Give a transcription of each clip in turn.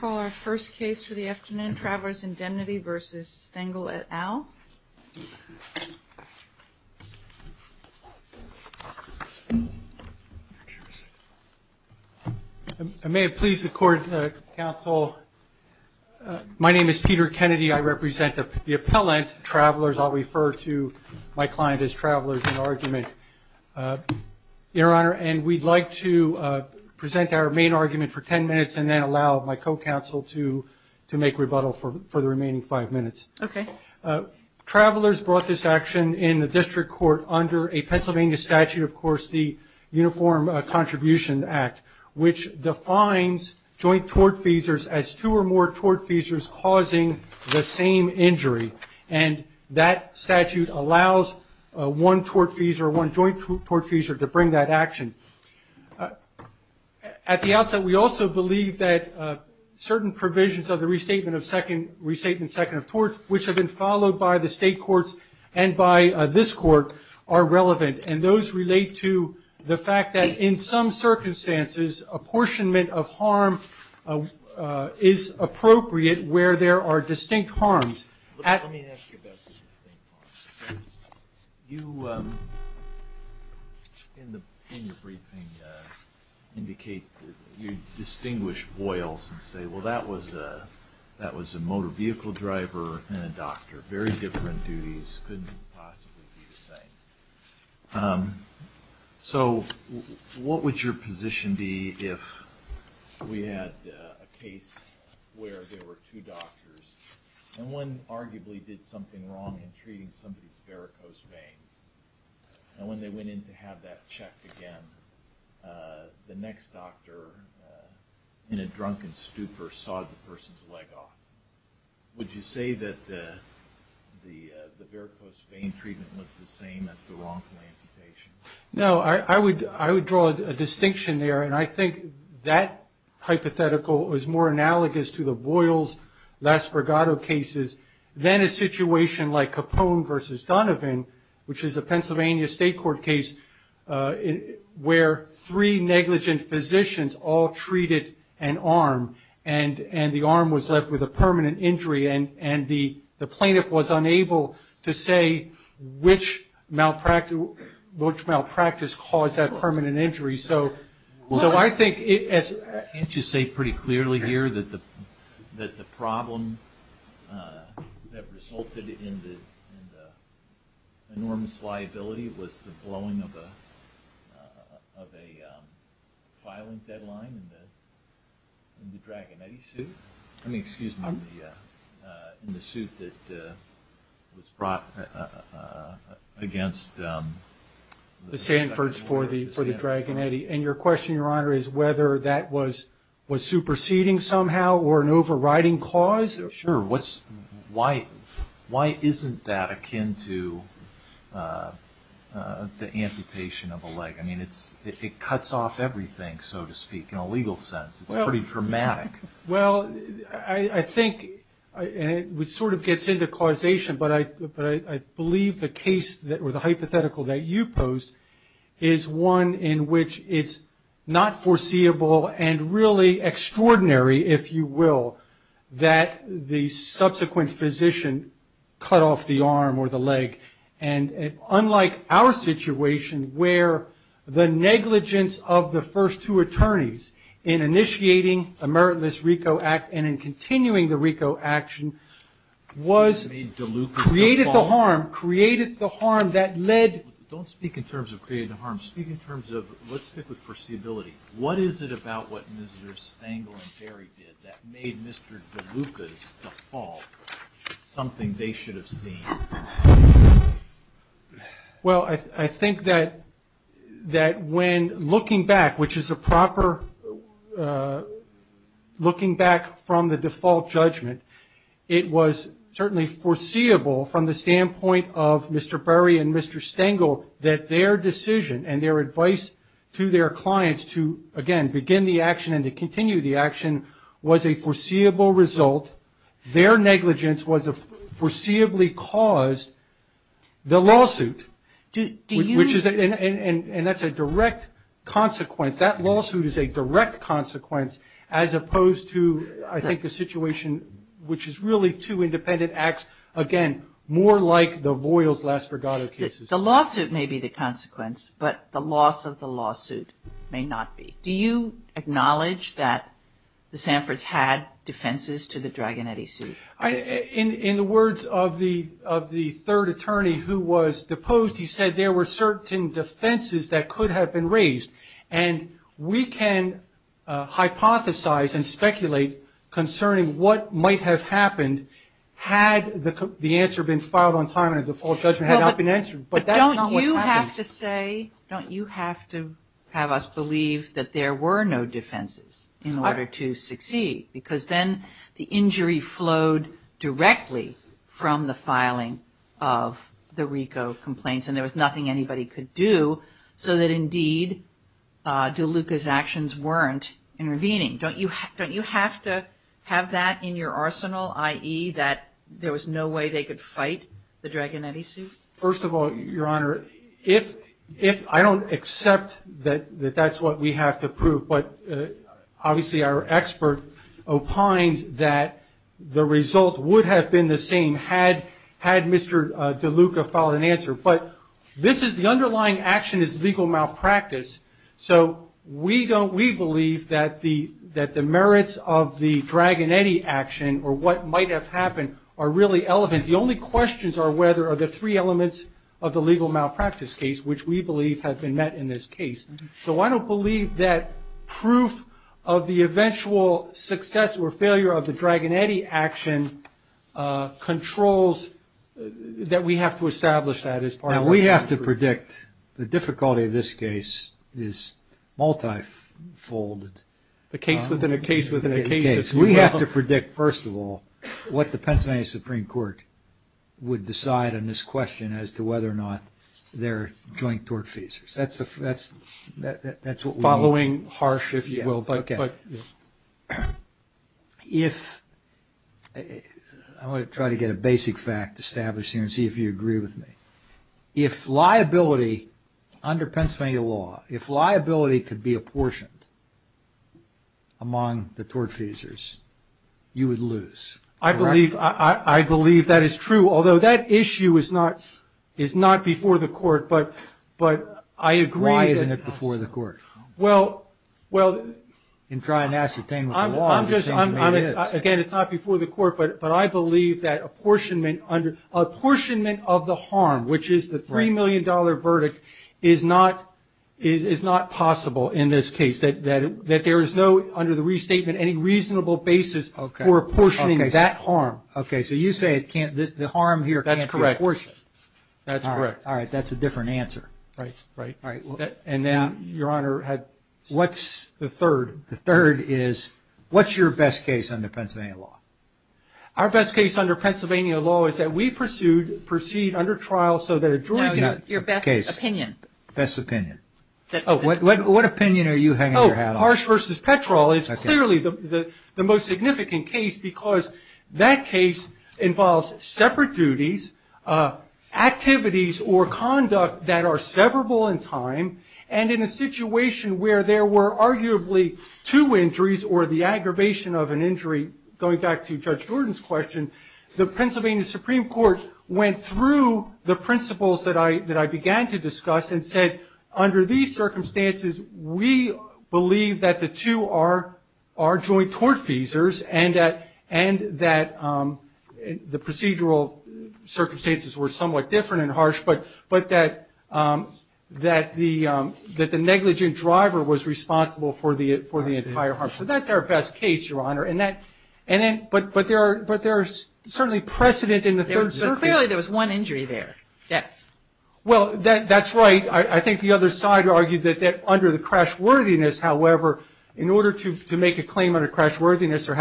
Call our first case for the afternoon, Travelers Indemnity vs. Stengel, et al. I may have pleased the court, counsel. My name is Peter Kennedy. I represent the appellant travelers. I'll refer to my client as travelers in argument, your honor. And we'd like to present our main argument for 10 minutes and then allow my co-counsel to make rebuttal for the remaining five minutes. Travelers brought this action in the district court under a Pennsylvania statute, of course, the Uniform Contribution Act, which defines joint tort feasors as two or more tort feasors causing the same injury. And that statute allows one tort feasor, one joint tort feasor to bring that action. At the outset, we also believe that certain provisions of the restatement of second, restatement second of torts, which have been followed by the state courts and by this court are relevant. And those relate to the fact that in some circumstances, apportionment of harm is appropriate where there are distinct harms. Let me ask you about the distinct harms. You, in your briefing, indicate that you distinguish foils and say, well, that was a motor vehicle driver and a doctor, very different duties couldn't possibly be the same. So, what would your position be if we had a case where there were two doctors and one arguably did something wrong in treating somebody's varicose veins, and when they went in to have that checked again, the next doctor, in a drunken stupor, sawed the person's leg off. Would you say that the varicose vein treatment was the same as the wrongful amputation? No, I would draw a distinction there, and I think that hypothetical is more analogous to the Voiles-Las Bregado cases than a situation like Capone v. Donovan, which is a Pennsylvania State Court case where three negligent physicians all treated an arm, and the arm was left with a permanent injury, and the plaintiff was unable to say which malpractice caused that permanent injury. So, I think... Can't you say pretty clearly here that the problem that resulted in the enormous liability was the blowing of a filing deadline in the Dragonetti suit? I mean, excuse me, in the suit that was brought against the... The Sanfords for the Dragonetti, and your question, Your Honor, is whether that was superseding somehow or an overriding cause? Sure. Why isn't that akin to the amputation of a leg? I mean, it cuts off everything, so to speak, in a legal sense. It's pretty dramatic. Well, I think... And it sort of gets into causation, but I believe the case or the hypothetical that you posed is one in which it's not foreseeable and really extraordinary, if you will, that the subsequent physician cut off the arm or the leg, and unlike our situation where the RICO Act, and in continuing the RICO Action, created the harm that led... Don't speak in terms of creating the harm. Speak in terms of... Let's stick with foreseeability. What is it about what Mr. Stangle and Barry did that made Mr. DeLuca's default something they should have seen? Well, I think that when looking back, which is a proper... Looking back from the default judgment, it was certainly foreseeable from the standpoint of Mr. Barry and Mr. Stangle that their decision and their advice to their clients to, again, begin the action and to continue the action was a foreseeable result. Their negligence was a foreseeably caused... The lawsuit, which is... Do you... And that's a direct consequence. That lawsuit is a direct consequence as opposed to, I think, the situation, which is really two independent acts, again, more like the Voiles-Las Vergadas cases. The lawsuit may be the consequence, but the loss of the lawsuit may not be. Do you acknowledge that the Sanfords had defenses to the Draganetti suit? In the words of the third attorney who was deposed, he said there were certain defenses that could have been raised. And we can hypothesize and speculate concerning what might have happened had the answer been filed on time and the default judgment had not been answered. But that's not what happened. Don't you have to say, don't you have to have us believe that there were no defenses in order to succeed? Because then the injury flowed directly from the filing of the RICO complaints and there was nothing anybody could do so that, indeed, DeLuca's actions weren't intervening. Don't you have to have that in your arsenal, i.e. that there was no way they could fight the Draganetti suit? First of all, Your Honor, I don't accept that that's what we have to prove, but obviously our expert opines that the result would have been the same had Mr. DeLuca filed an answer. But the underlying action is legal malpractice. So we believe that the merits of the Draganetti action or what might have happened are really relevant. The only questions are whether the three elements of the legal malpractice case, which we believe have been met in this case. So I don't believe that proof of the eventual success or failure of the Draganetti action controls that we have to establish that as part of our inquiry. Now, we have to predict the difficulty of this case is multifolded. The case within a case within a case. We have to predict, first of all, what the Pennsylvania Supreme Court would decide on this question as to whether or not they're joint tort feasors. That's what we need. Following harsh, if you will, but... I want to try to get a basic fact established here and see if you agree with me. If liability under Pennsylvania law, if liability could be apportioned among the tort feasors, you would lose, correct? I believe that is true, although that issue is not before the court, but I agree... Why isn't it before the court? Well, well... You can try and ascertain with the law. Again, it's not before the court, but I believe that apportionment of the harm, which is the $3 million verdict, is not possible in this case. That there is no, under the restatement, any reasonable basis for apportioning that harm. Okay, so you say the harm here can't be apportioned. That's correct. All right, that's a different answer. Right, right. And then, Your Honor, what's the third? The third is, what's your best case under Pennsylvania law? Our best case under Pennsylvania law is that we pursued, proceed under trial so that... No, your best opinion. Best opinion. What opinion are you hanging your hat on? Harsh v. Petrol is clearly the most significant case because that case involves separate duties, activities or conduct that are severable in time, and in a situation where there were arguably two injuries or the aggravation of an injury, going back to Judge Gordon's question, the Pennsylvania Supreme Court went through the principles that I began to discuss and said, under these circumstances, we believe that the two are joint tortfeasors and that the procedural circumstances were somewhat different and harsh, but that the negligent driver was responsible for the entire harm. So that's our best case, Your Honor. But there's certainly precedent in the third circuit. But clearly there was one injury there, death. Well, that's right. I think the other side argued that under the crashworthiness, however, in order to make a claim under crashworthiness, there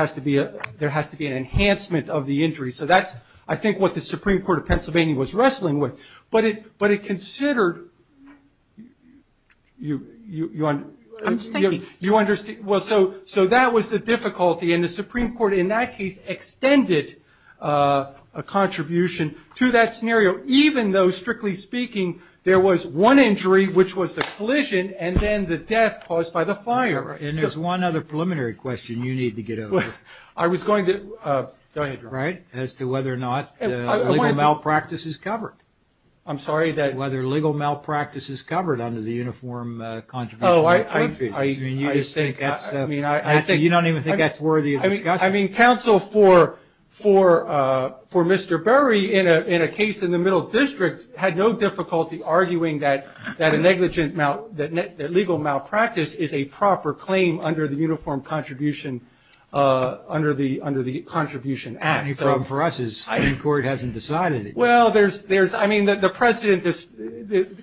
has to be an enhancement of the injury. So that's, I think, what the Supreme Court of Pennsylvania was wrestling with. But it considered... I'm just thinking. You understand. Well, so that was the difficulty. And the Supreme Court in that case extended a contribution to that scenario, even though, strictly speaking, there was one injury, which was the collision, and then the death caused by the fire. And there's one other preliminary question you need to get over. I was going to... Go ahead, Your Honor. Right? As to whether or not legal malpractice is covered. Whether legal malpractice is covered under the Uniform Contribution to Crime Fees. I think that's... You don't even think that's worthy of discussion? I mean, counsel for Mr. Berry in a case in the Middle District had no difficulty arguing that a legal malpractice is a proper claim under the Uniform Contribution Act. The only problem for us is the Supreme Court hasn't decided it yet. Well, there's... I mean, the precedent is...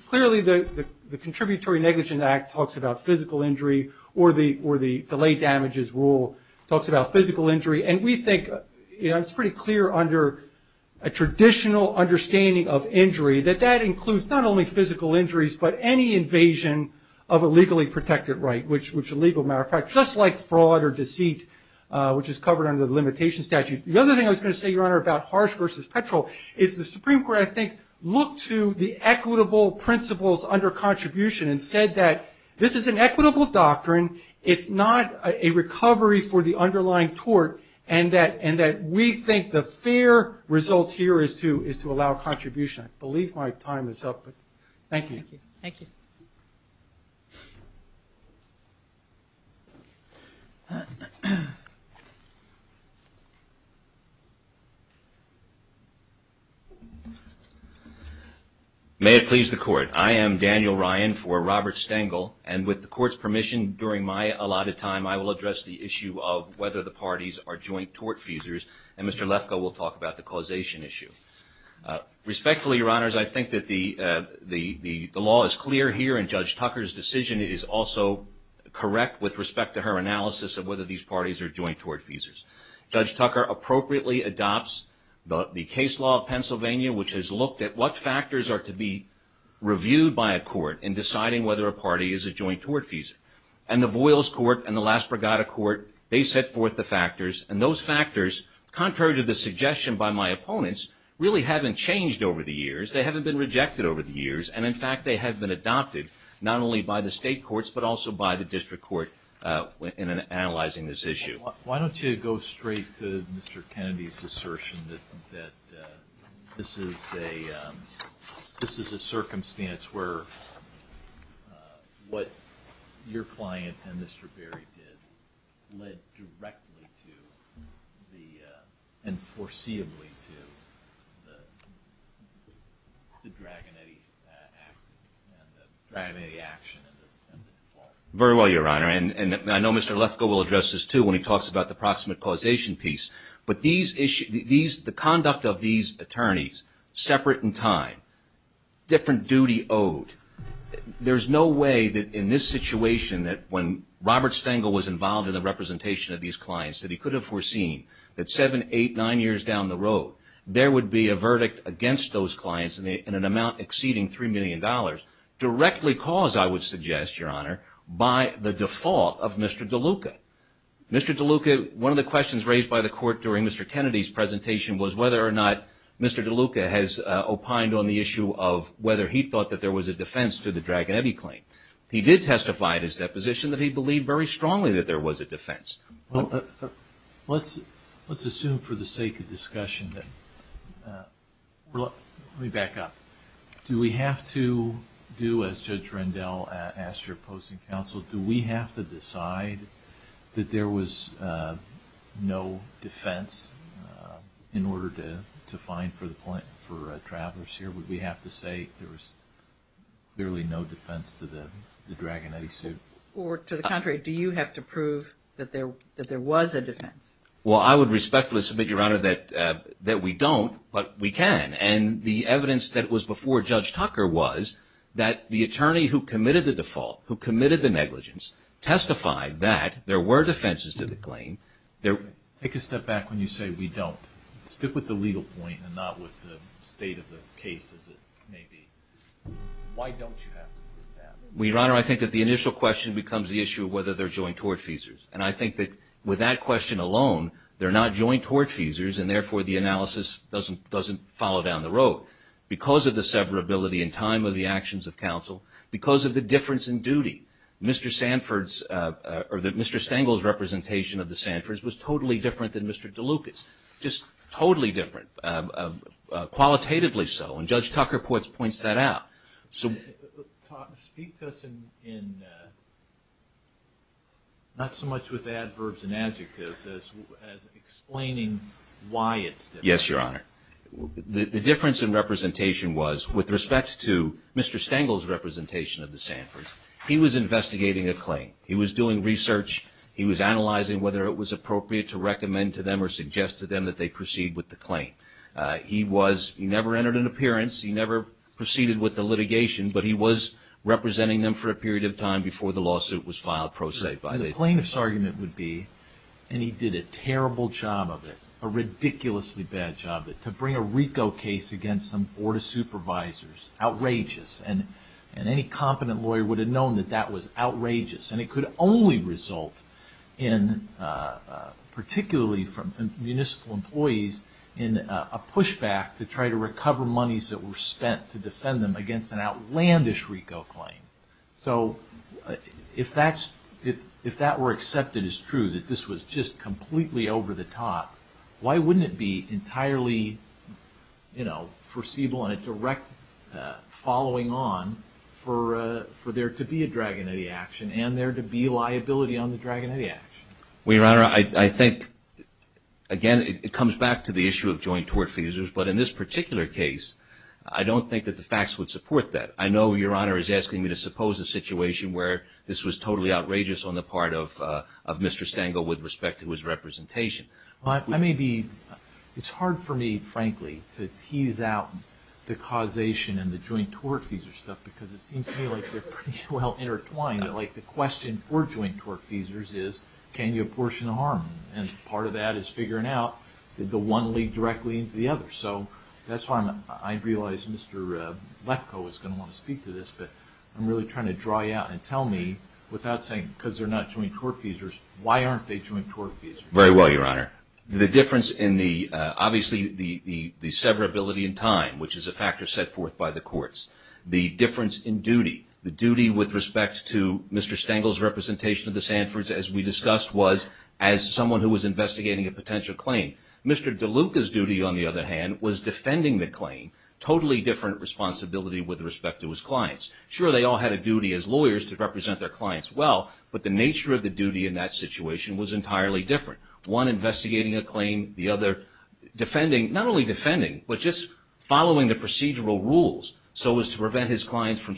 Clearly, the Contributory Negligent Act talks about physical injury or the Delay Damages Rule talks about physical injury. And we think it's pretty clear under a traditional understanding of injury that that includes not only physical injuries, but any invasion of a legally protected right, which a legal malpractice, just like fraud or deceit, which is covered under the Limitation Statute. The other thing I was going to say, Your Honor, about harsh versus petrol is the Supreme Court, I think, looked to the equitable principles under contribution and said that this is an equitable doctrine, it's not a recovery for the underlying tort, and that we think the fair result here is to allow contribution. Thank you. May it please the Court. I am Daniel Ryan for Robert Stengel, and with the Court's permission, during my allotted time, I will address the issue of whether the parties are joint-tort feasors, and Mr. Lefkoe will talk about the causation issue. Respectfully, Your Honors, I think that the law is clear here, and Judge Tucker's decision is also correct with respect to her analysis of whether these parties are joint-tort feasors. Judge Tucker appropriately adopts the case law of Pennsylvania, which has looked at what factors are to be reviewed by a court in deciding whether a party is a joint-tort feasor. And the Voiles Court and the Las Pregadas Court, they set forth the factors, and those factors, contrary to the suggestion by my opponents, really haven't changed over the years, they haven't been rejected over the years, and in fact, they have been adopted, not only by the state courts, but also by the district court in analyzing this issue. Why don't you go straight to Mr. Kennedy's assertion that this is a circumstance where what your client and Mr. Berry did led directly to the, and foreseeably to, the Draganetti action and the default? Very well, Your Honor, and I know Mr. Lefkoe will address this, too, when he talks about the proximate causation piece, but the conduct of these attorneys, separate in time, different duty owed, there's no way that in this situation, that when Robert Stengel was involved in the representation of these clients, that he could have foreseen that seven, eight, nine years down the road, there would be a verdict against those clients in an amount exceeding $3 million, directly caused, I would suggest, Your Honor, by the default of Mr. DeLuca. Mr. DeLuca, one of the questions raised by the court during Mr. Kennedy's presentation was whether or not Mr. DeLuca has opined on the issue of whether he thought that there was a defense to the Draganetti claim. He did testify at his deposition that he believed very strongly that there was a defense. Let's assume for the sake of discussion that, let me back up, do we have to do, as Judge Rendell asked your opposing counsel, do we have to decide that there was no defense in order to find for travelers here? Would we have to say there was clearly no defense to the Draganetti suit? Or to the contrary, do you have to prove that there was a defense? Well, I would respectfully submit, Your Honor, that we don't, but we can. And the evidence that was before Judge Tucker was that the attorney who committed the default, who committed the negligence, testified that there were defenses to the claim. Take a step back when you say we don't. Stick with the legal point and not with the state of the case as it may be. Why don't you have to do that? Well, Your Honor, I think that the initial question becomes the issue of whether they're joint tortfeasors. And I think that with that question alone, they're not joint tortfeasors, and therefore the analysis doesn't follow down the road. Because of the severability in time of the actions of counsel, because of the difference in duty, Mr. Stengel's representation of the Sanfords was totally different than Mr. DeLucas. Just totally different. Qualitatively so, and Judge Tucker points that out. So... Speak to us in... Not so much with adverbs and adjectives as explaining why it's different. Yes, Your Honor. The difference in representation was with respect to Mr. Stengel's representation of the Sanfords, he was investigating a claim. He was doing research. He was analyzing whether it was appropriate to recommend to them or suggest to them that they proceed with the claim. He never entered an appearance. He never proceeded with the litigation, but he was representing them for a period of time before the lawsuit was filed pro se. The plaintiff's argument would be, and he did a terrible job of it, a ridiculously bad job of it, to bring a RICO case against some Board of Supervisors. Outrageous. And any competent lawyer would have known that that was outrageous. And it could only result in, particularly from municipal employees, in a pushback to try to recover monies that were spent to defend them against an outlandish RICO claim. So, if that were accepted as true, that this was just completely over the top, why wouldn't it be entirely foreseeable and a direct following on for there to be a Dragon Etty action and there to be liability on the Dragon Etty action? Well, Your Honor, I think again, it comes back to the issue of joint tort feasors, but in this particular case, I don't think that the facts would support that. I know Your Honor is asking me to suppose a situation where this was totally outrageous on the part of Mr. Stengel with respect to his representation. It's hard for me, frankly, to tease out the causation and the joint tort feasor stuff because it seems to me like they're pretty well intertwined, like the question for joint tort feasors is, can you apportion harm? And part of that is I'm really trying to draw you out and tell me without saying, because they're not joint tort feasors, why aren't they joint tort feasors? Very well, Your Honor. The difference in the, obviously, the severability in time, which is a factor set forth by the courts. The difference in duty. The duty with respect to Mr. Stengel's representation of the Sanfords, as we discussed, criminal case, to be able to say, Mr. DeLuca's duty, on the other hand, was defending the claim. Totally different responsibility with respect to his clients. Sure, they all had a duty as lawyers to represent their clients well, but the nature of the duty in that situation was entirely different. One, investigating a claim. The other, defending, not only defending, but just following the procedural rules so as to prevent his clients from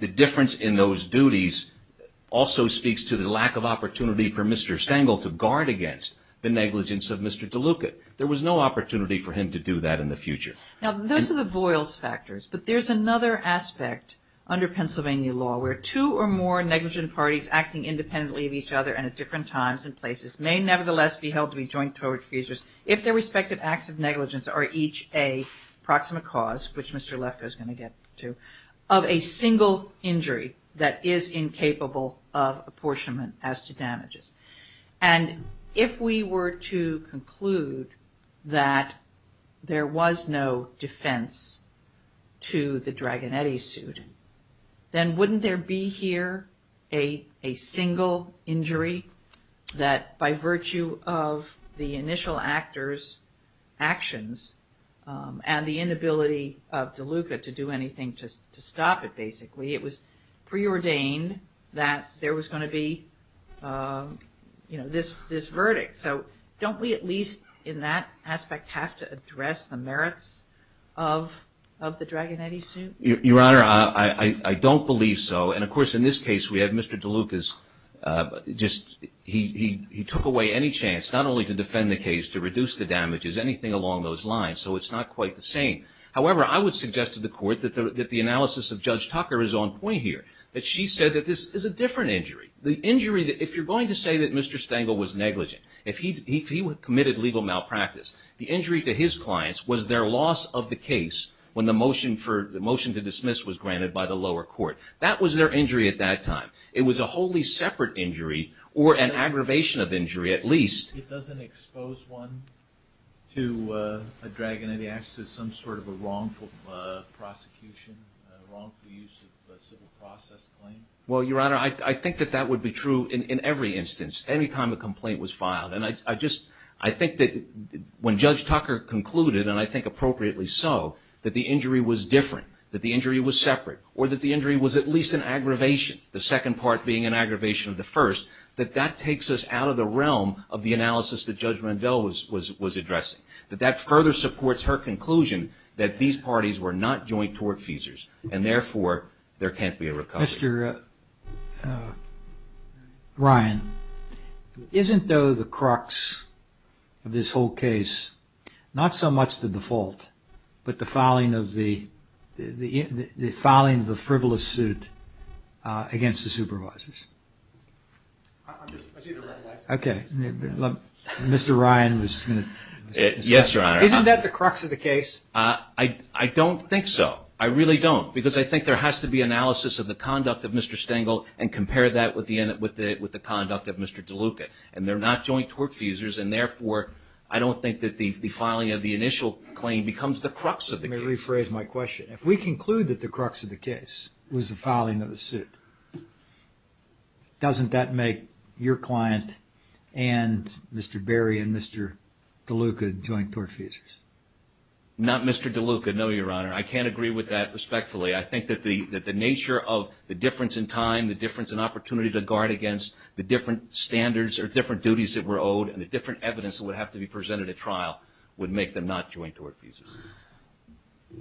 the difference in those duties also speaks to the lack of opportunity for Mr. Stengel to guard against the negligence of Mr. DeLuca. There was no opportunity for him to do that in the future. Now, those are the voyles factors, but there's another aspect under Pennsylvania law where two or more negligent parties acting independently of each other and at different times and places may nevertheless be held to be joint tort feasors if their respective acts of negligence are each a proximate cause, which Mr. Lefkoe is going to get to, of a single injury that is incapable of apportionment as to damages. And if we were to conclude that there was no defense to the Dragonetti suit, then wouldn't there be here a single injury that by virtue of the initial actor's actions and the intent to stop it, basically, it was preordained that there was going to be this verdict? So don't we at least in that aspect have to address the merits of the Dragonetti suit? Your Honor, I don't believe so. And of course in this case we have Mr. DeLuca's just he took away any chance not only to defend the case, to reduce the damages, anything along those lines. So it's not quite the same. However, I would suggest to the Court that the analysis of Judge Tucker is on point here. That she said that this is a different injury. The injury, if you're going to say that Mr. Stengel was negligent, if he committed legal malpractice, the injury to his clients was their loss of the case when the motion to dismiss was granted by the lower court. That was their injury at that time. It was a wholly separate injury, or an aggravation of injury at least. It doesn't expose one to a Dragonetti act as some sort of a wrongful prosecution, wrongful use of a civil process claim. Well, Your Honor, I think that that would be true in every instance. Any time a complaint was filed. And I just, I think that when Judge Tucker concluded, and I think appropriately so, that the injury was different, that the injury was separate, or that the injury was at least an aggravation, the second part being an aggravation of the first, that that takes us out of the realm of the analysis that Judge Rendell was addressing. That that further supports her conclusion that these parties were not joint tort feasors, and therefore, there can't be a recovery. Mr. Ryan, isn't though the crux of this whole case not so much the default, but the filing of the frivolous suit against the supervisors? Okay. Mr. Ryan was going to... Yes, Your Honor. Isn't that the crux of the case? I don't think so. I really don't. Because I think there has to be analysis of the conduct of Mr. Stengel and compare that with the conduct of Mr. DeLuca. And they're not joint tort feasors, and therefore, I don't think that the filing of the initial claim becomes the crux of the case. Let me rephrase my question. If we conclude that the crux of the case was the filing of the suit, doesn't that make your client and Mr. Berry and Mr. DeLuca joint tort feasors? Not Mr. DeLuca, no, Your Honor. I can't agree with that respectfully. I think that the nature of the difference in time, the difference in opportunity to guard against, the different standards or different duties that were owed, and the different evidence that would have to be presented at trial would make them not joint tort feasors.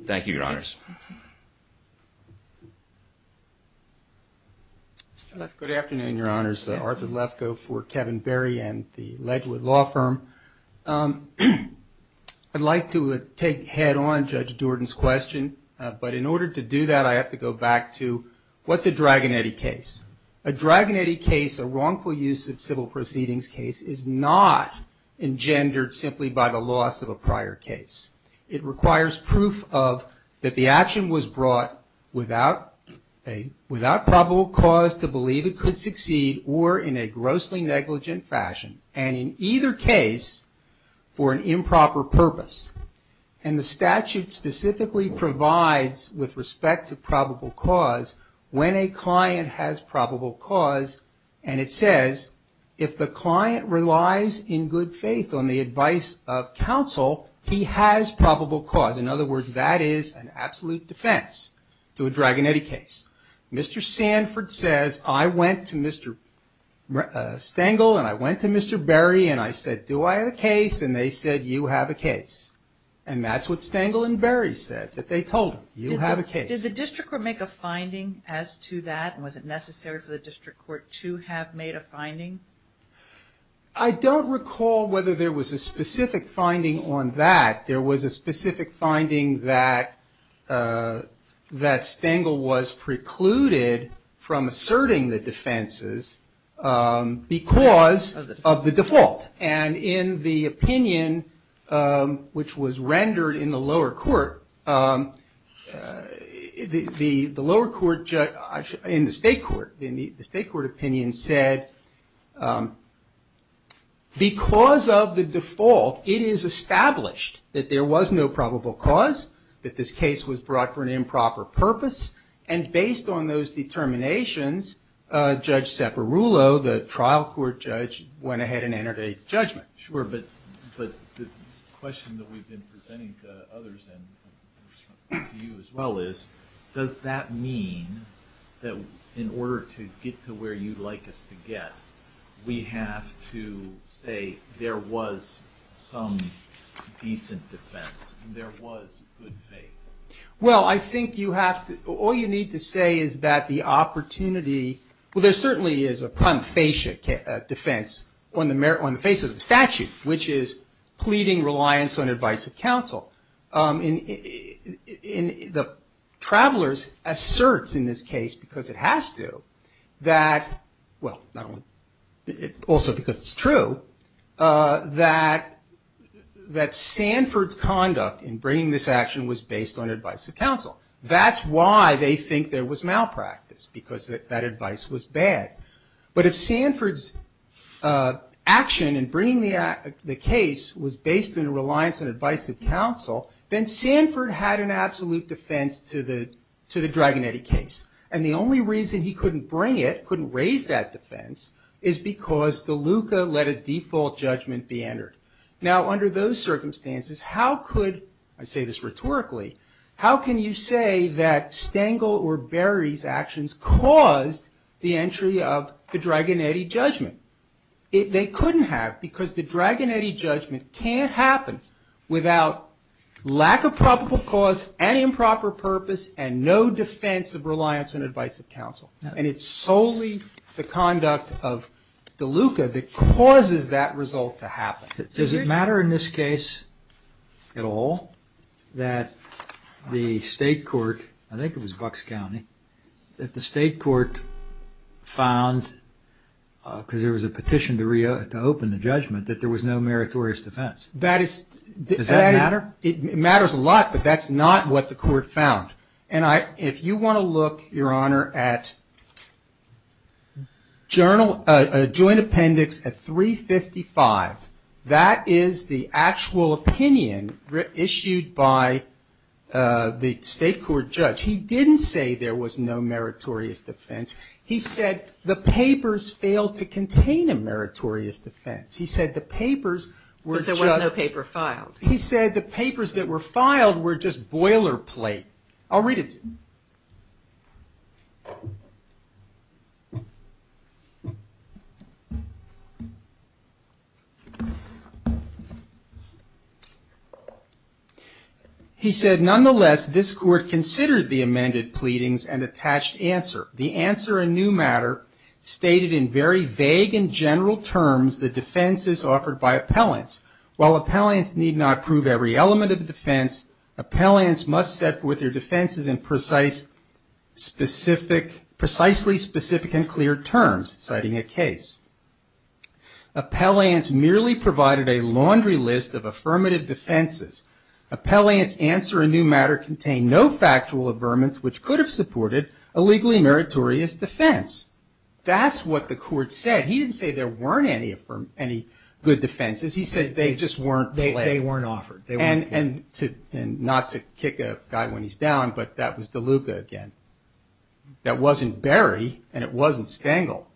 Thank you, Your Honors. Good afternoon, Your Honors. Arthur Lefkoe for Kevin Berry and the Ledgwood Law Firm. I'd like to take head-on Judge Jordan's question, but in order to do that, I have to go back to, what's a Dragonetti case? A Dragonetti case, a wrongful use of civil proceedings case, is not engendered simply by the loss of a prior case. It requires proof that the action was brought without probable cause to believe it could succeed, or in a grossly negligent fashion, and in either case, for an improper purpose. And the statute specifically provides, with respect to probable cause, when a client has probable cause, and it says, if the client has probable cause, he has probable cause. In other words, that is an absolute defense to a Dragonetti case. Mr. Sanford says, I went to Mr. Stengel, and I went to Mr. Berry, and I said, do I have a case? And they said, you have a case. And that's what Stengel and Berry said, that they told him, you have a case. Did the district court make a finding as to that, and was it necessary for the district court to have made a finding? I don't recall whether there was a specific finding on that. There was a specific finding that Stengel was precluded from asserting the defenses because of the default. And in the opinion which was rendered in the lower court, in the state court, the state court opinion said, because of the default, it is established that there was no probable cause, that this case was brought for an improper purpose, and based on those determinations, Judge Ceperulo, the trial court judge, went ahead and entered a judgment. But the question that we've been presenting to others and to you as well is, does that mean that in order to get to where you'd like us to get, we have to say there was some decent defense, there was good faith? Well, I think you have to, all you need to say is that the opportunity, well, there certainly is a prime facie defense on the face of the statute, which is pleading reliance on advice of counsel. And the travelers asserts in this case, because it has to, that, well, also because it's true, that Sanford's conduct in bringing this action was based on advice of counsel. That's why they think there was malpractice, because that advice was bad. But if Sanford's action in bringing the case was based on a reliance on advice of counsel, then Sanford had an absolute defense to the Dragonetti case. And the only reason he couldn't bring it, couldn't raise that defense, is because the LUCA let a default judgment be entered. Now, under those circumstances, how could, I say this rhetorically, how can you say that Stengel or Berry's actions caused the entry of the Dragonetti judgment? They couldn't have, because the Dragonetti judgment can't happen without lack of probable cause and improper purpose and no defense of reliance on advice of counsel. And it's solely the conduct of the LUCA that causes that result to happen. Does it matter in this case at all that the state court, I think it was Bucks County, that the state court found, because there was a petition to reopen the judgment, that there was no meritorious defense? Does that matter? It matters a lot, but that's not what the court found. And if you want to look, Your Honor, at a joint appendix at 355, that is the actual opinion issued by the state court judge. He didn't say there was no meritorious defense. He said the papers failed to contain a meritorious defense. He said the papers were just... But there was no paper filed. He said the papers that were filed were just boilerplate. I'll read it to you. He said, But nonetheless, this court considered the amended pleadings and attached answer. The answer in new matter stated in very vague and general terms the defenses offered by appellants. Appellants merely provided a laundry list of defendants. New matter contained no factual averments which could have supported a legally meritorious defense. That's what the court said. He didn't say there weren't any good defenses. He said they just weren't offered. And not to kick a guy when he's down, but that was DeLuca again. That wasn't Berry and it wasn't Stengel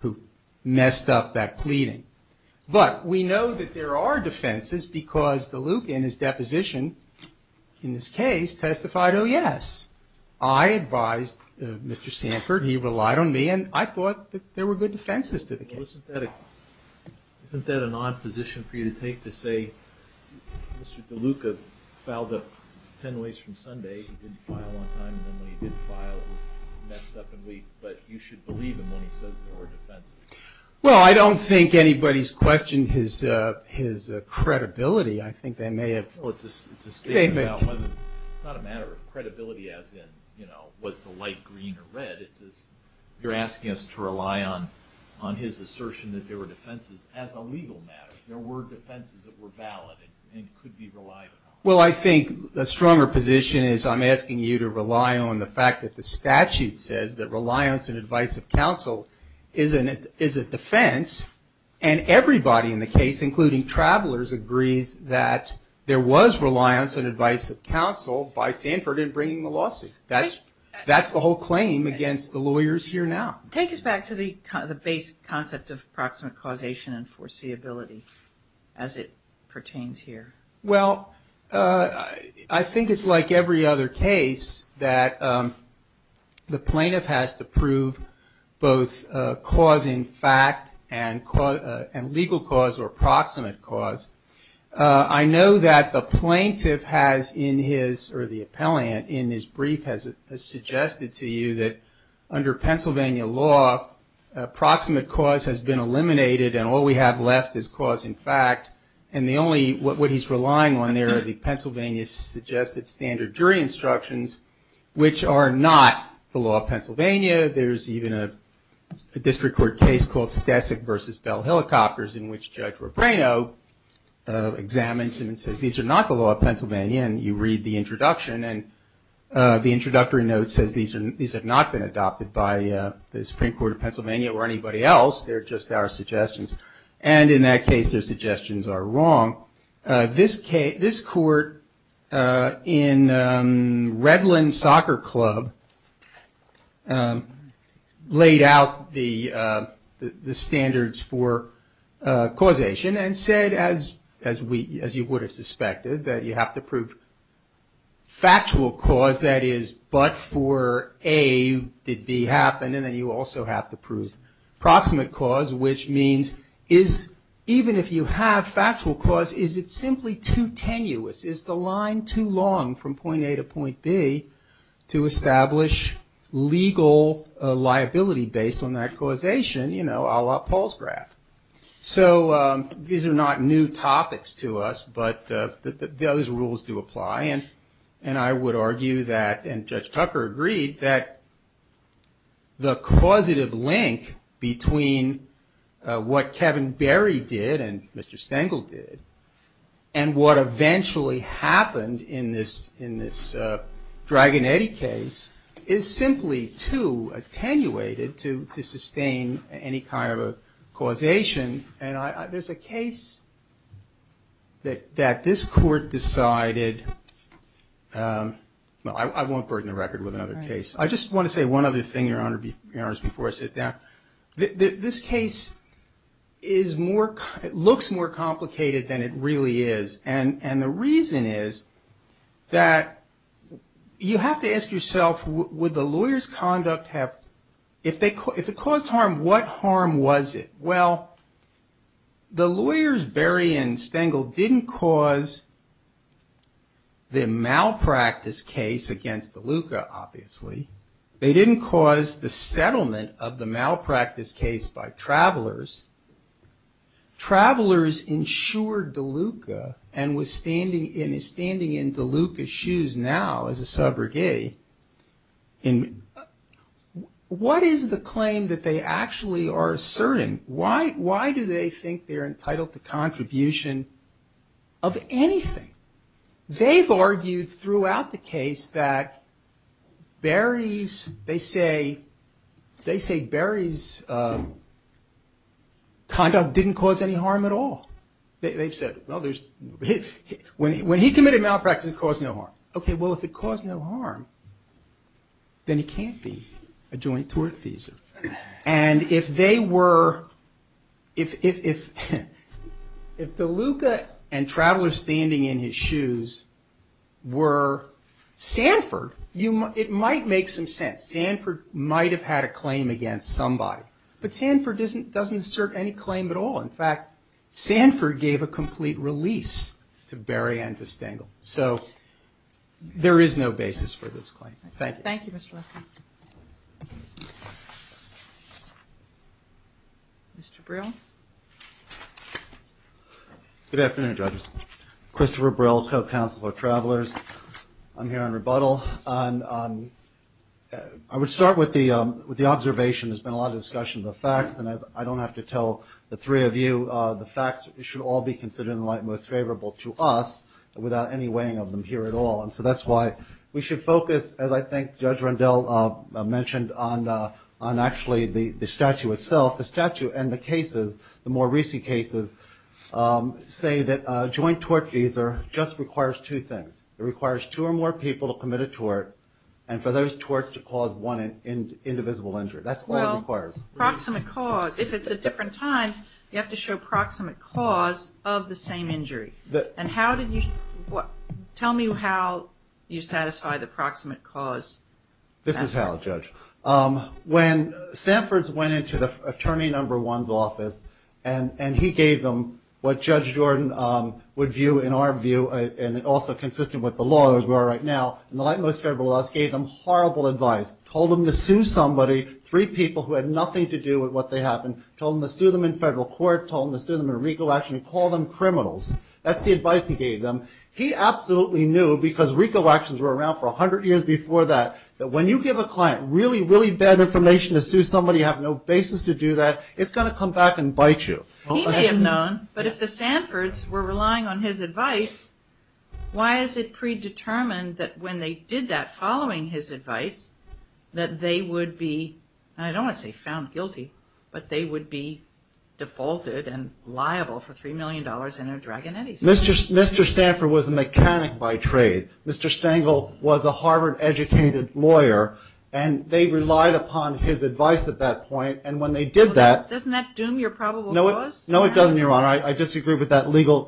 who messed up that pleading. But we know that there are defenses because DeLuca in his deposition in this case testified, oh yes, I advised Mr. Sanford, he relied on me and I thought that there were good defenses to the case. Isn't that an odd position for you to take to say Mr. DeLuca fouled up 10 ways from Sunday, he didn't file on time and then when he did file it was messed up and weak, but you should believe him when he says there were defenses. Well, I don't think anybody's questioned his credibility. I think they may have. It's not a matter of credibility as in was the light green or red, it's just you're asking us to rely on his assertion that there were defenses as a legal matter. There were defenses that were valid and could be relied upon. Well, I think a stronger position is I'm asking you to rely on the fact that the statute says that reliance and advice of counsel is a defense and everybody in the case, including travelers, agrees that there was reliance and advice of counsel by Sanford in bringing the lawsuit. That's the whole claim against the lawyers here now. Take us back to the basic concept of proximate causation and foreseeability as it pertains here. Well, I think it's like every other case that the plaintiff has to prove both cause in fact and legal cause or proximate cause. I know that the plaintiff has in his or the appellant in his brief has suggested to you that under Pennsylvania law proximate cause has been eliminated and all we have left is cause in fact and the only what he's relying on there are the Pennsylvania suggested standard jury instructions which are not the law of Pennsylvania. There's even a district court case called Stasek v. Bell Helicopters in which Judge Robreno examines and says these are not the law of Pennsylvania and you read the introduction and the introductory note says these have not been adopted by the Supreme Court of Pennsylvania or anybody else. They're just our suggestions and in that case their suggestions are wrong. This court in Redland Soccer Club laid out the standards for causation and said as you would have suspected that you have to prove factual cause that is but for A did B happen and then you also have to prove proximate cause which means is even if you have factual cause is it simply too tenuous? Is the line too long from point A to point B to establish legal liability based on that causation a la Paul's graph? So these are not new topics to us but those rules do apply and I would argue that and Judge Tucker agreed that the causative link between what Kevin Berry did and Mr. Stengel did and what eventually happened in this Dragon Eddy case is simply too attenuated to sustain any kind of causation and there's a case that this court decided I won't burden the record with another case. I just want to say one other thing before I sit down. This case looks more complicated than it really is and the reason is that you have to ask if it caused harm what harm was it? Well the lawyers Berry and Stengel didn't cause the malpractice case against DeLuca obviously. They didn't cause the settlement of the malpractice case by Travelers Travelers insured DeLuca and is standing in DeLuca's now as a subrogate what is the claim that they actually are asserting? Why do they think they're entitled to contribution of anything? They've argued throughout the case that Berry's they say Berry's conduct didn't cause any harm at all. They've said when he committed malpractice it caused no harm. Okay, well if it caused no harm then he can't be a joint tortfeasor and if they were if DeLuca and Travelers standing in his shoes were Sanford it might make some sense. Sanford might have had a claim against somebody but Sanford doesn't assert any release to Berry and to Stengel. So there is no basis for this claim. Thank you. Thank you Mr. Leffert. Mr. Brill Good afternoon judges Christopher Brill, co-counsel of Travelers I'm here on rebuttal I would start with the observation there's been a lot of discussion of the facts and I don't have to tell the three of you the facts should all be considered in the light most favorable to us without any weighing of them here at all and so that's why we should focus as I think Judge Rendell mentioned on actually the statute itself. The statute and the cases the more recent cases say that a joint tortfeasor just requires two things it requires two or more people to commit a tort and for those torts to cause one indivisible injury that's all it requires. Well, proximate cause if it's at different times you have to show proximate cause of the same injury and how did you tell me how you satisfy the proximate cause This is how Judge when Sanford's went into the attorney number one's office and he gave them what Judge Jordan would view in our view and also consistent with the law as we are right now in the light most favorable to us three people who had nothing to do with what they happened told them to sue them in federal court, told them to sue them in RICO action and call them criminals. That's the advice he gave them He absolutely knew because RICO actions were around for a hundred years before that, that when you give a client really really bad information to sue somebody you have no basis to do that it's going to come back and bite you. He may have known but if the Sanfords were relying on his advice why is it predetermined that when they did that and I don't want to say found guilty but they would be defaulted and liable for three million dollars in their dragon eddies. Mr. Sanford was a mechanic by trade Mr. Stangle was a Harvard educated lawyer and they relied upon his advice at that point and when they did that. Doesn't that doom your probable cause? No it doesn't your honor I disagree with that legal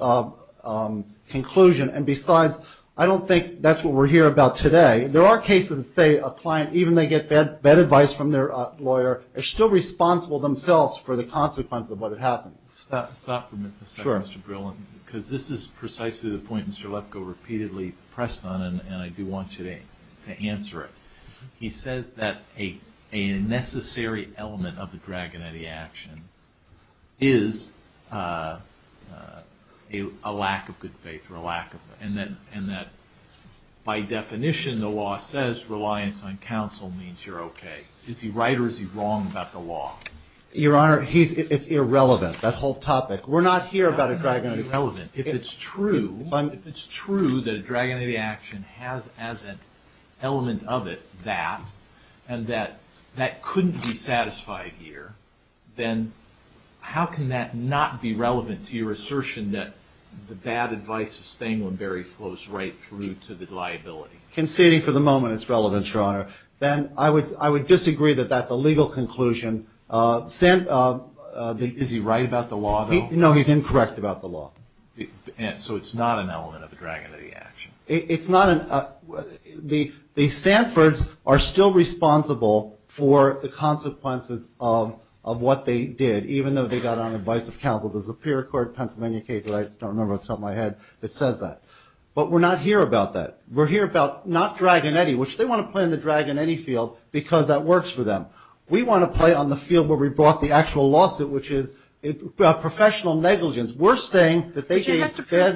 conclusion and besides I don't think that's what we're here about today. There are cases that say a client even if they get bad advice from their lawyer are still responsible themselves for the consequence of what had happened. Stop for a second Mr. Brill because this is precisely the point Mr. Lefko repeatedly pressed on and I do want you to answer it he says that a necessary element of the dragon eddy action is a lack of good faith and that by definition the law says reliance on counsel means you're okay. Is he right or is he wrong about the law? Your honor it's irrelevant that whole topic. We're not here about a dragon eddy If it's true that a dragon eddy action has as an element of it that and that couldn't be satisfied here then how can that not be relevant to your assertion that the bad advice of Stanglenberry flows right through to the liability? Conceding for the moment it's relevant your honor then I would disagree that that's a legal conclusion Is he right about the law? No he's incorrect about the law So it's not an element of the dragon eddy action? The Sanfords are still responsible for the consequences of what they did even though they got on We're not here about that We're here about not dragon eddy which they want to play in the dragon eddy field because that works for them. We want to play on the field where we brought the actual lawsuit which is professional negligence. We're saying that they gave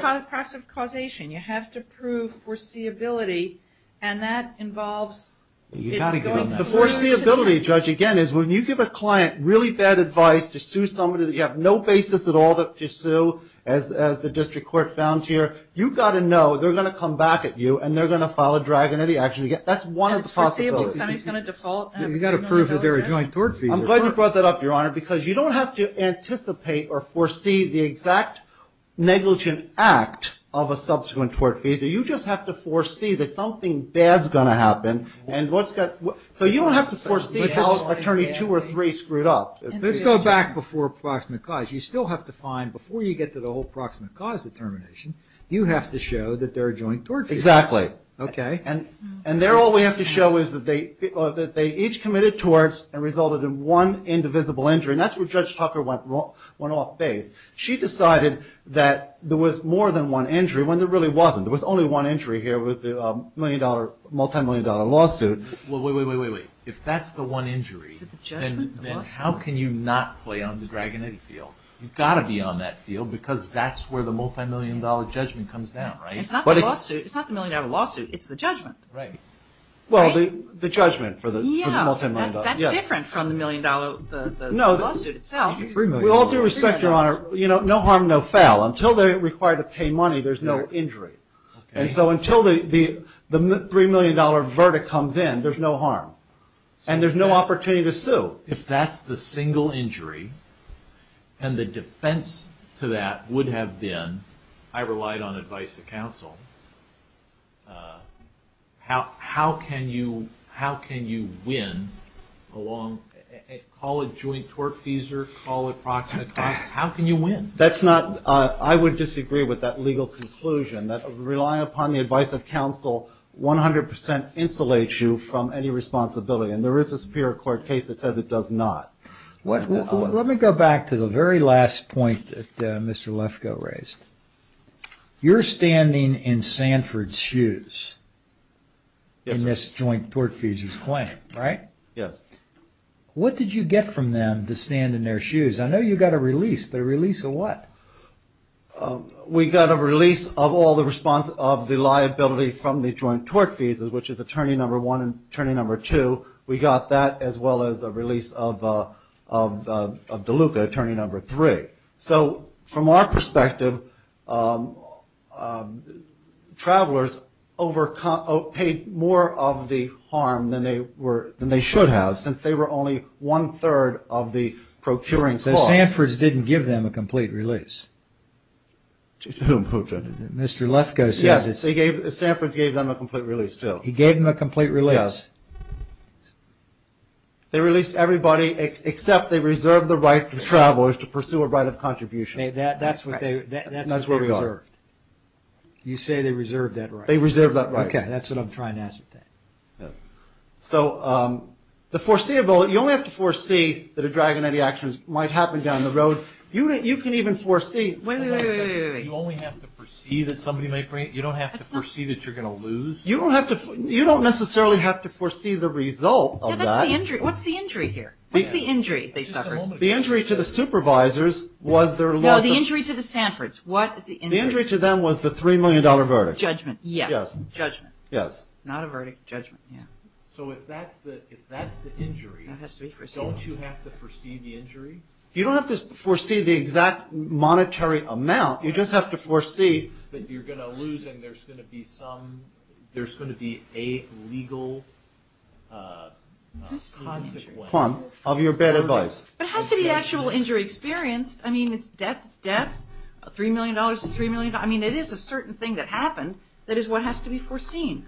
passive causation. You have to prove foreseeability and that involves The foreseeability judge again is when you give a client really bad advice to sue somebody that you have no basis at all to sue as the district court found here. You've got to know they're going to come back at you and they're going to file a dragon eddy action. That's one of the possibilities You've got to prove that they're a joint tort fee I'm glad you brought that up your honor because you don't have to anticipate or foresee the exact negligent act of a subsequent tort fee. You just have to foresee that something bad is going to happen So you don't have to foresee how attorney two or three screwed up Let's go back before proximate cause. You still have to find before you get to the whole proximate cause determination you have to show that they're a joint tort fee and there all we have to show is that they each committed torts and resulted in one indivisible injury and that's where Judge Tucker went off base She decided that there was more than one injury when there really wasn't. There was only one injury here with the multi-million dollar lawsuit If that's the one injury how can you not play on the dragon eddy field You've got to be on that field because that's where the multi-million dollar judgment comes down It's not the multi-million dollar lawsuit. It's the judgment Well the judgment for the multi-million dollar That's different from the multi-million dollar lawsuit itself With all due respect, your honor, no harm no foul Until they're required to pay money, there's no injury And so until the three million dollar verdict comes in, there's no harm. And there's no opportunity to sue. If that's the single injury and the defense to that would have been I relied on advice of counsel How can you win Call it joint tortfeasor, call it proximate How can you win? I would disagree with that legal conclusion Relying upon the advice of counsel 100% insulates you from any responsibility And there is a superior court case that says it does not Let me go back to the very last point that Mr. Lefkoe raised in this joint tortfeasor's claim What did you get from them to stand in their shoes? I know you got a release, but a release of what? We got a release of all the liability from the joint tortfeasor, which is attorney number one and attorney number two. We got that as well as a release of DeLuca, attorney number three So from our perspective Travelers paid more of the harm than they should have since they were only one third of the procuring cost So Sanford's didn't give them a complete release? Mr. Lefkoe said Sanford's gave them a complete release too They released everybody except they reserved the right to travelers to pursue a right of contribution That's what they reserved You say they reserved that right That's what I'm trying to ascertain You only have to foresee that a drag on any actions might happen down the road You can even foresee You don't have to foresee that you're going to lose? You don't necessarily have to foresee the result What's the injury here? The injury to the supervisors The injury to the Sanford's The injury to them was the $3 million verdict Judgment So if that's the injury don't you have to foresee the injury? You don't have to foresee the exact monetary amount You just have to foresee that you're going to lose and there's going to be a legal consequence It has to be actual injury experience It's death It is a certain thing that happened that is what has to be foreseen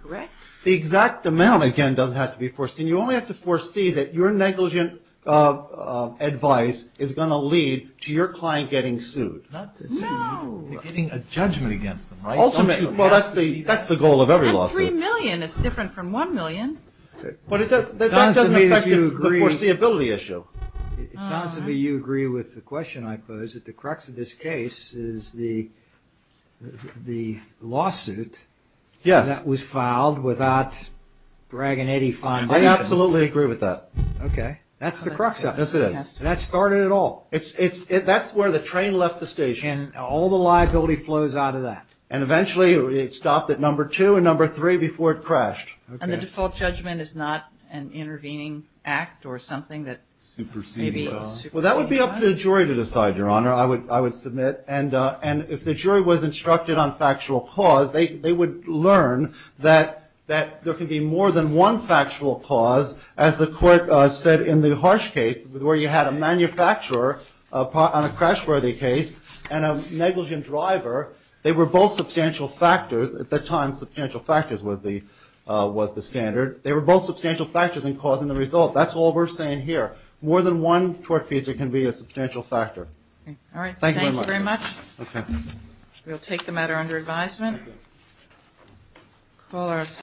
The exact amount has to be foreseen You only have to foresee that your negligent advice is going to lead to your client getting sued You're getting a judgment against them That's the goal of every lawsuit $3 million is different from $1 million That doesn't affect the foreseeability issue It sounds to me you agree with the question I posed that the crux of this case is the the lawsuit that was filed without I absolutely agree with that That started it all That's where the train left the station All the liability flows out of that It stopped at number 2 and number 3 before it crashed The default judgment is not an intervening act or something that That would be up to the jury to decide If the jury was instructed on factual cause they would learn that there can be more than one factual cause as the court said in the harsh case where you had a manufacturer on a crash worthy case and a negligent driver They were both substantial factors At the time substantial factors was the standard They were both substantial factors in causing the result That's all we're saying here More than one tort feature can be a substantial factor Thank you very much We'll take the matter under advisement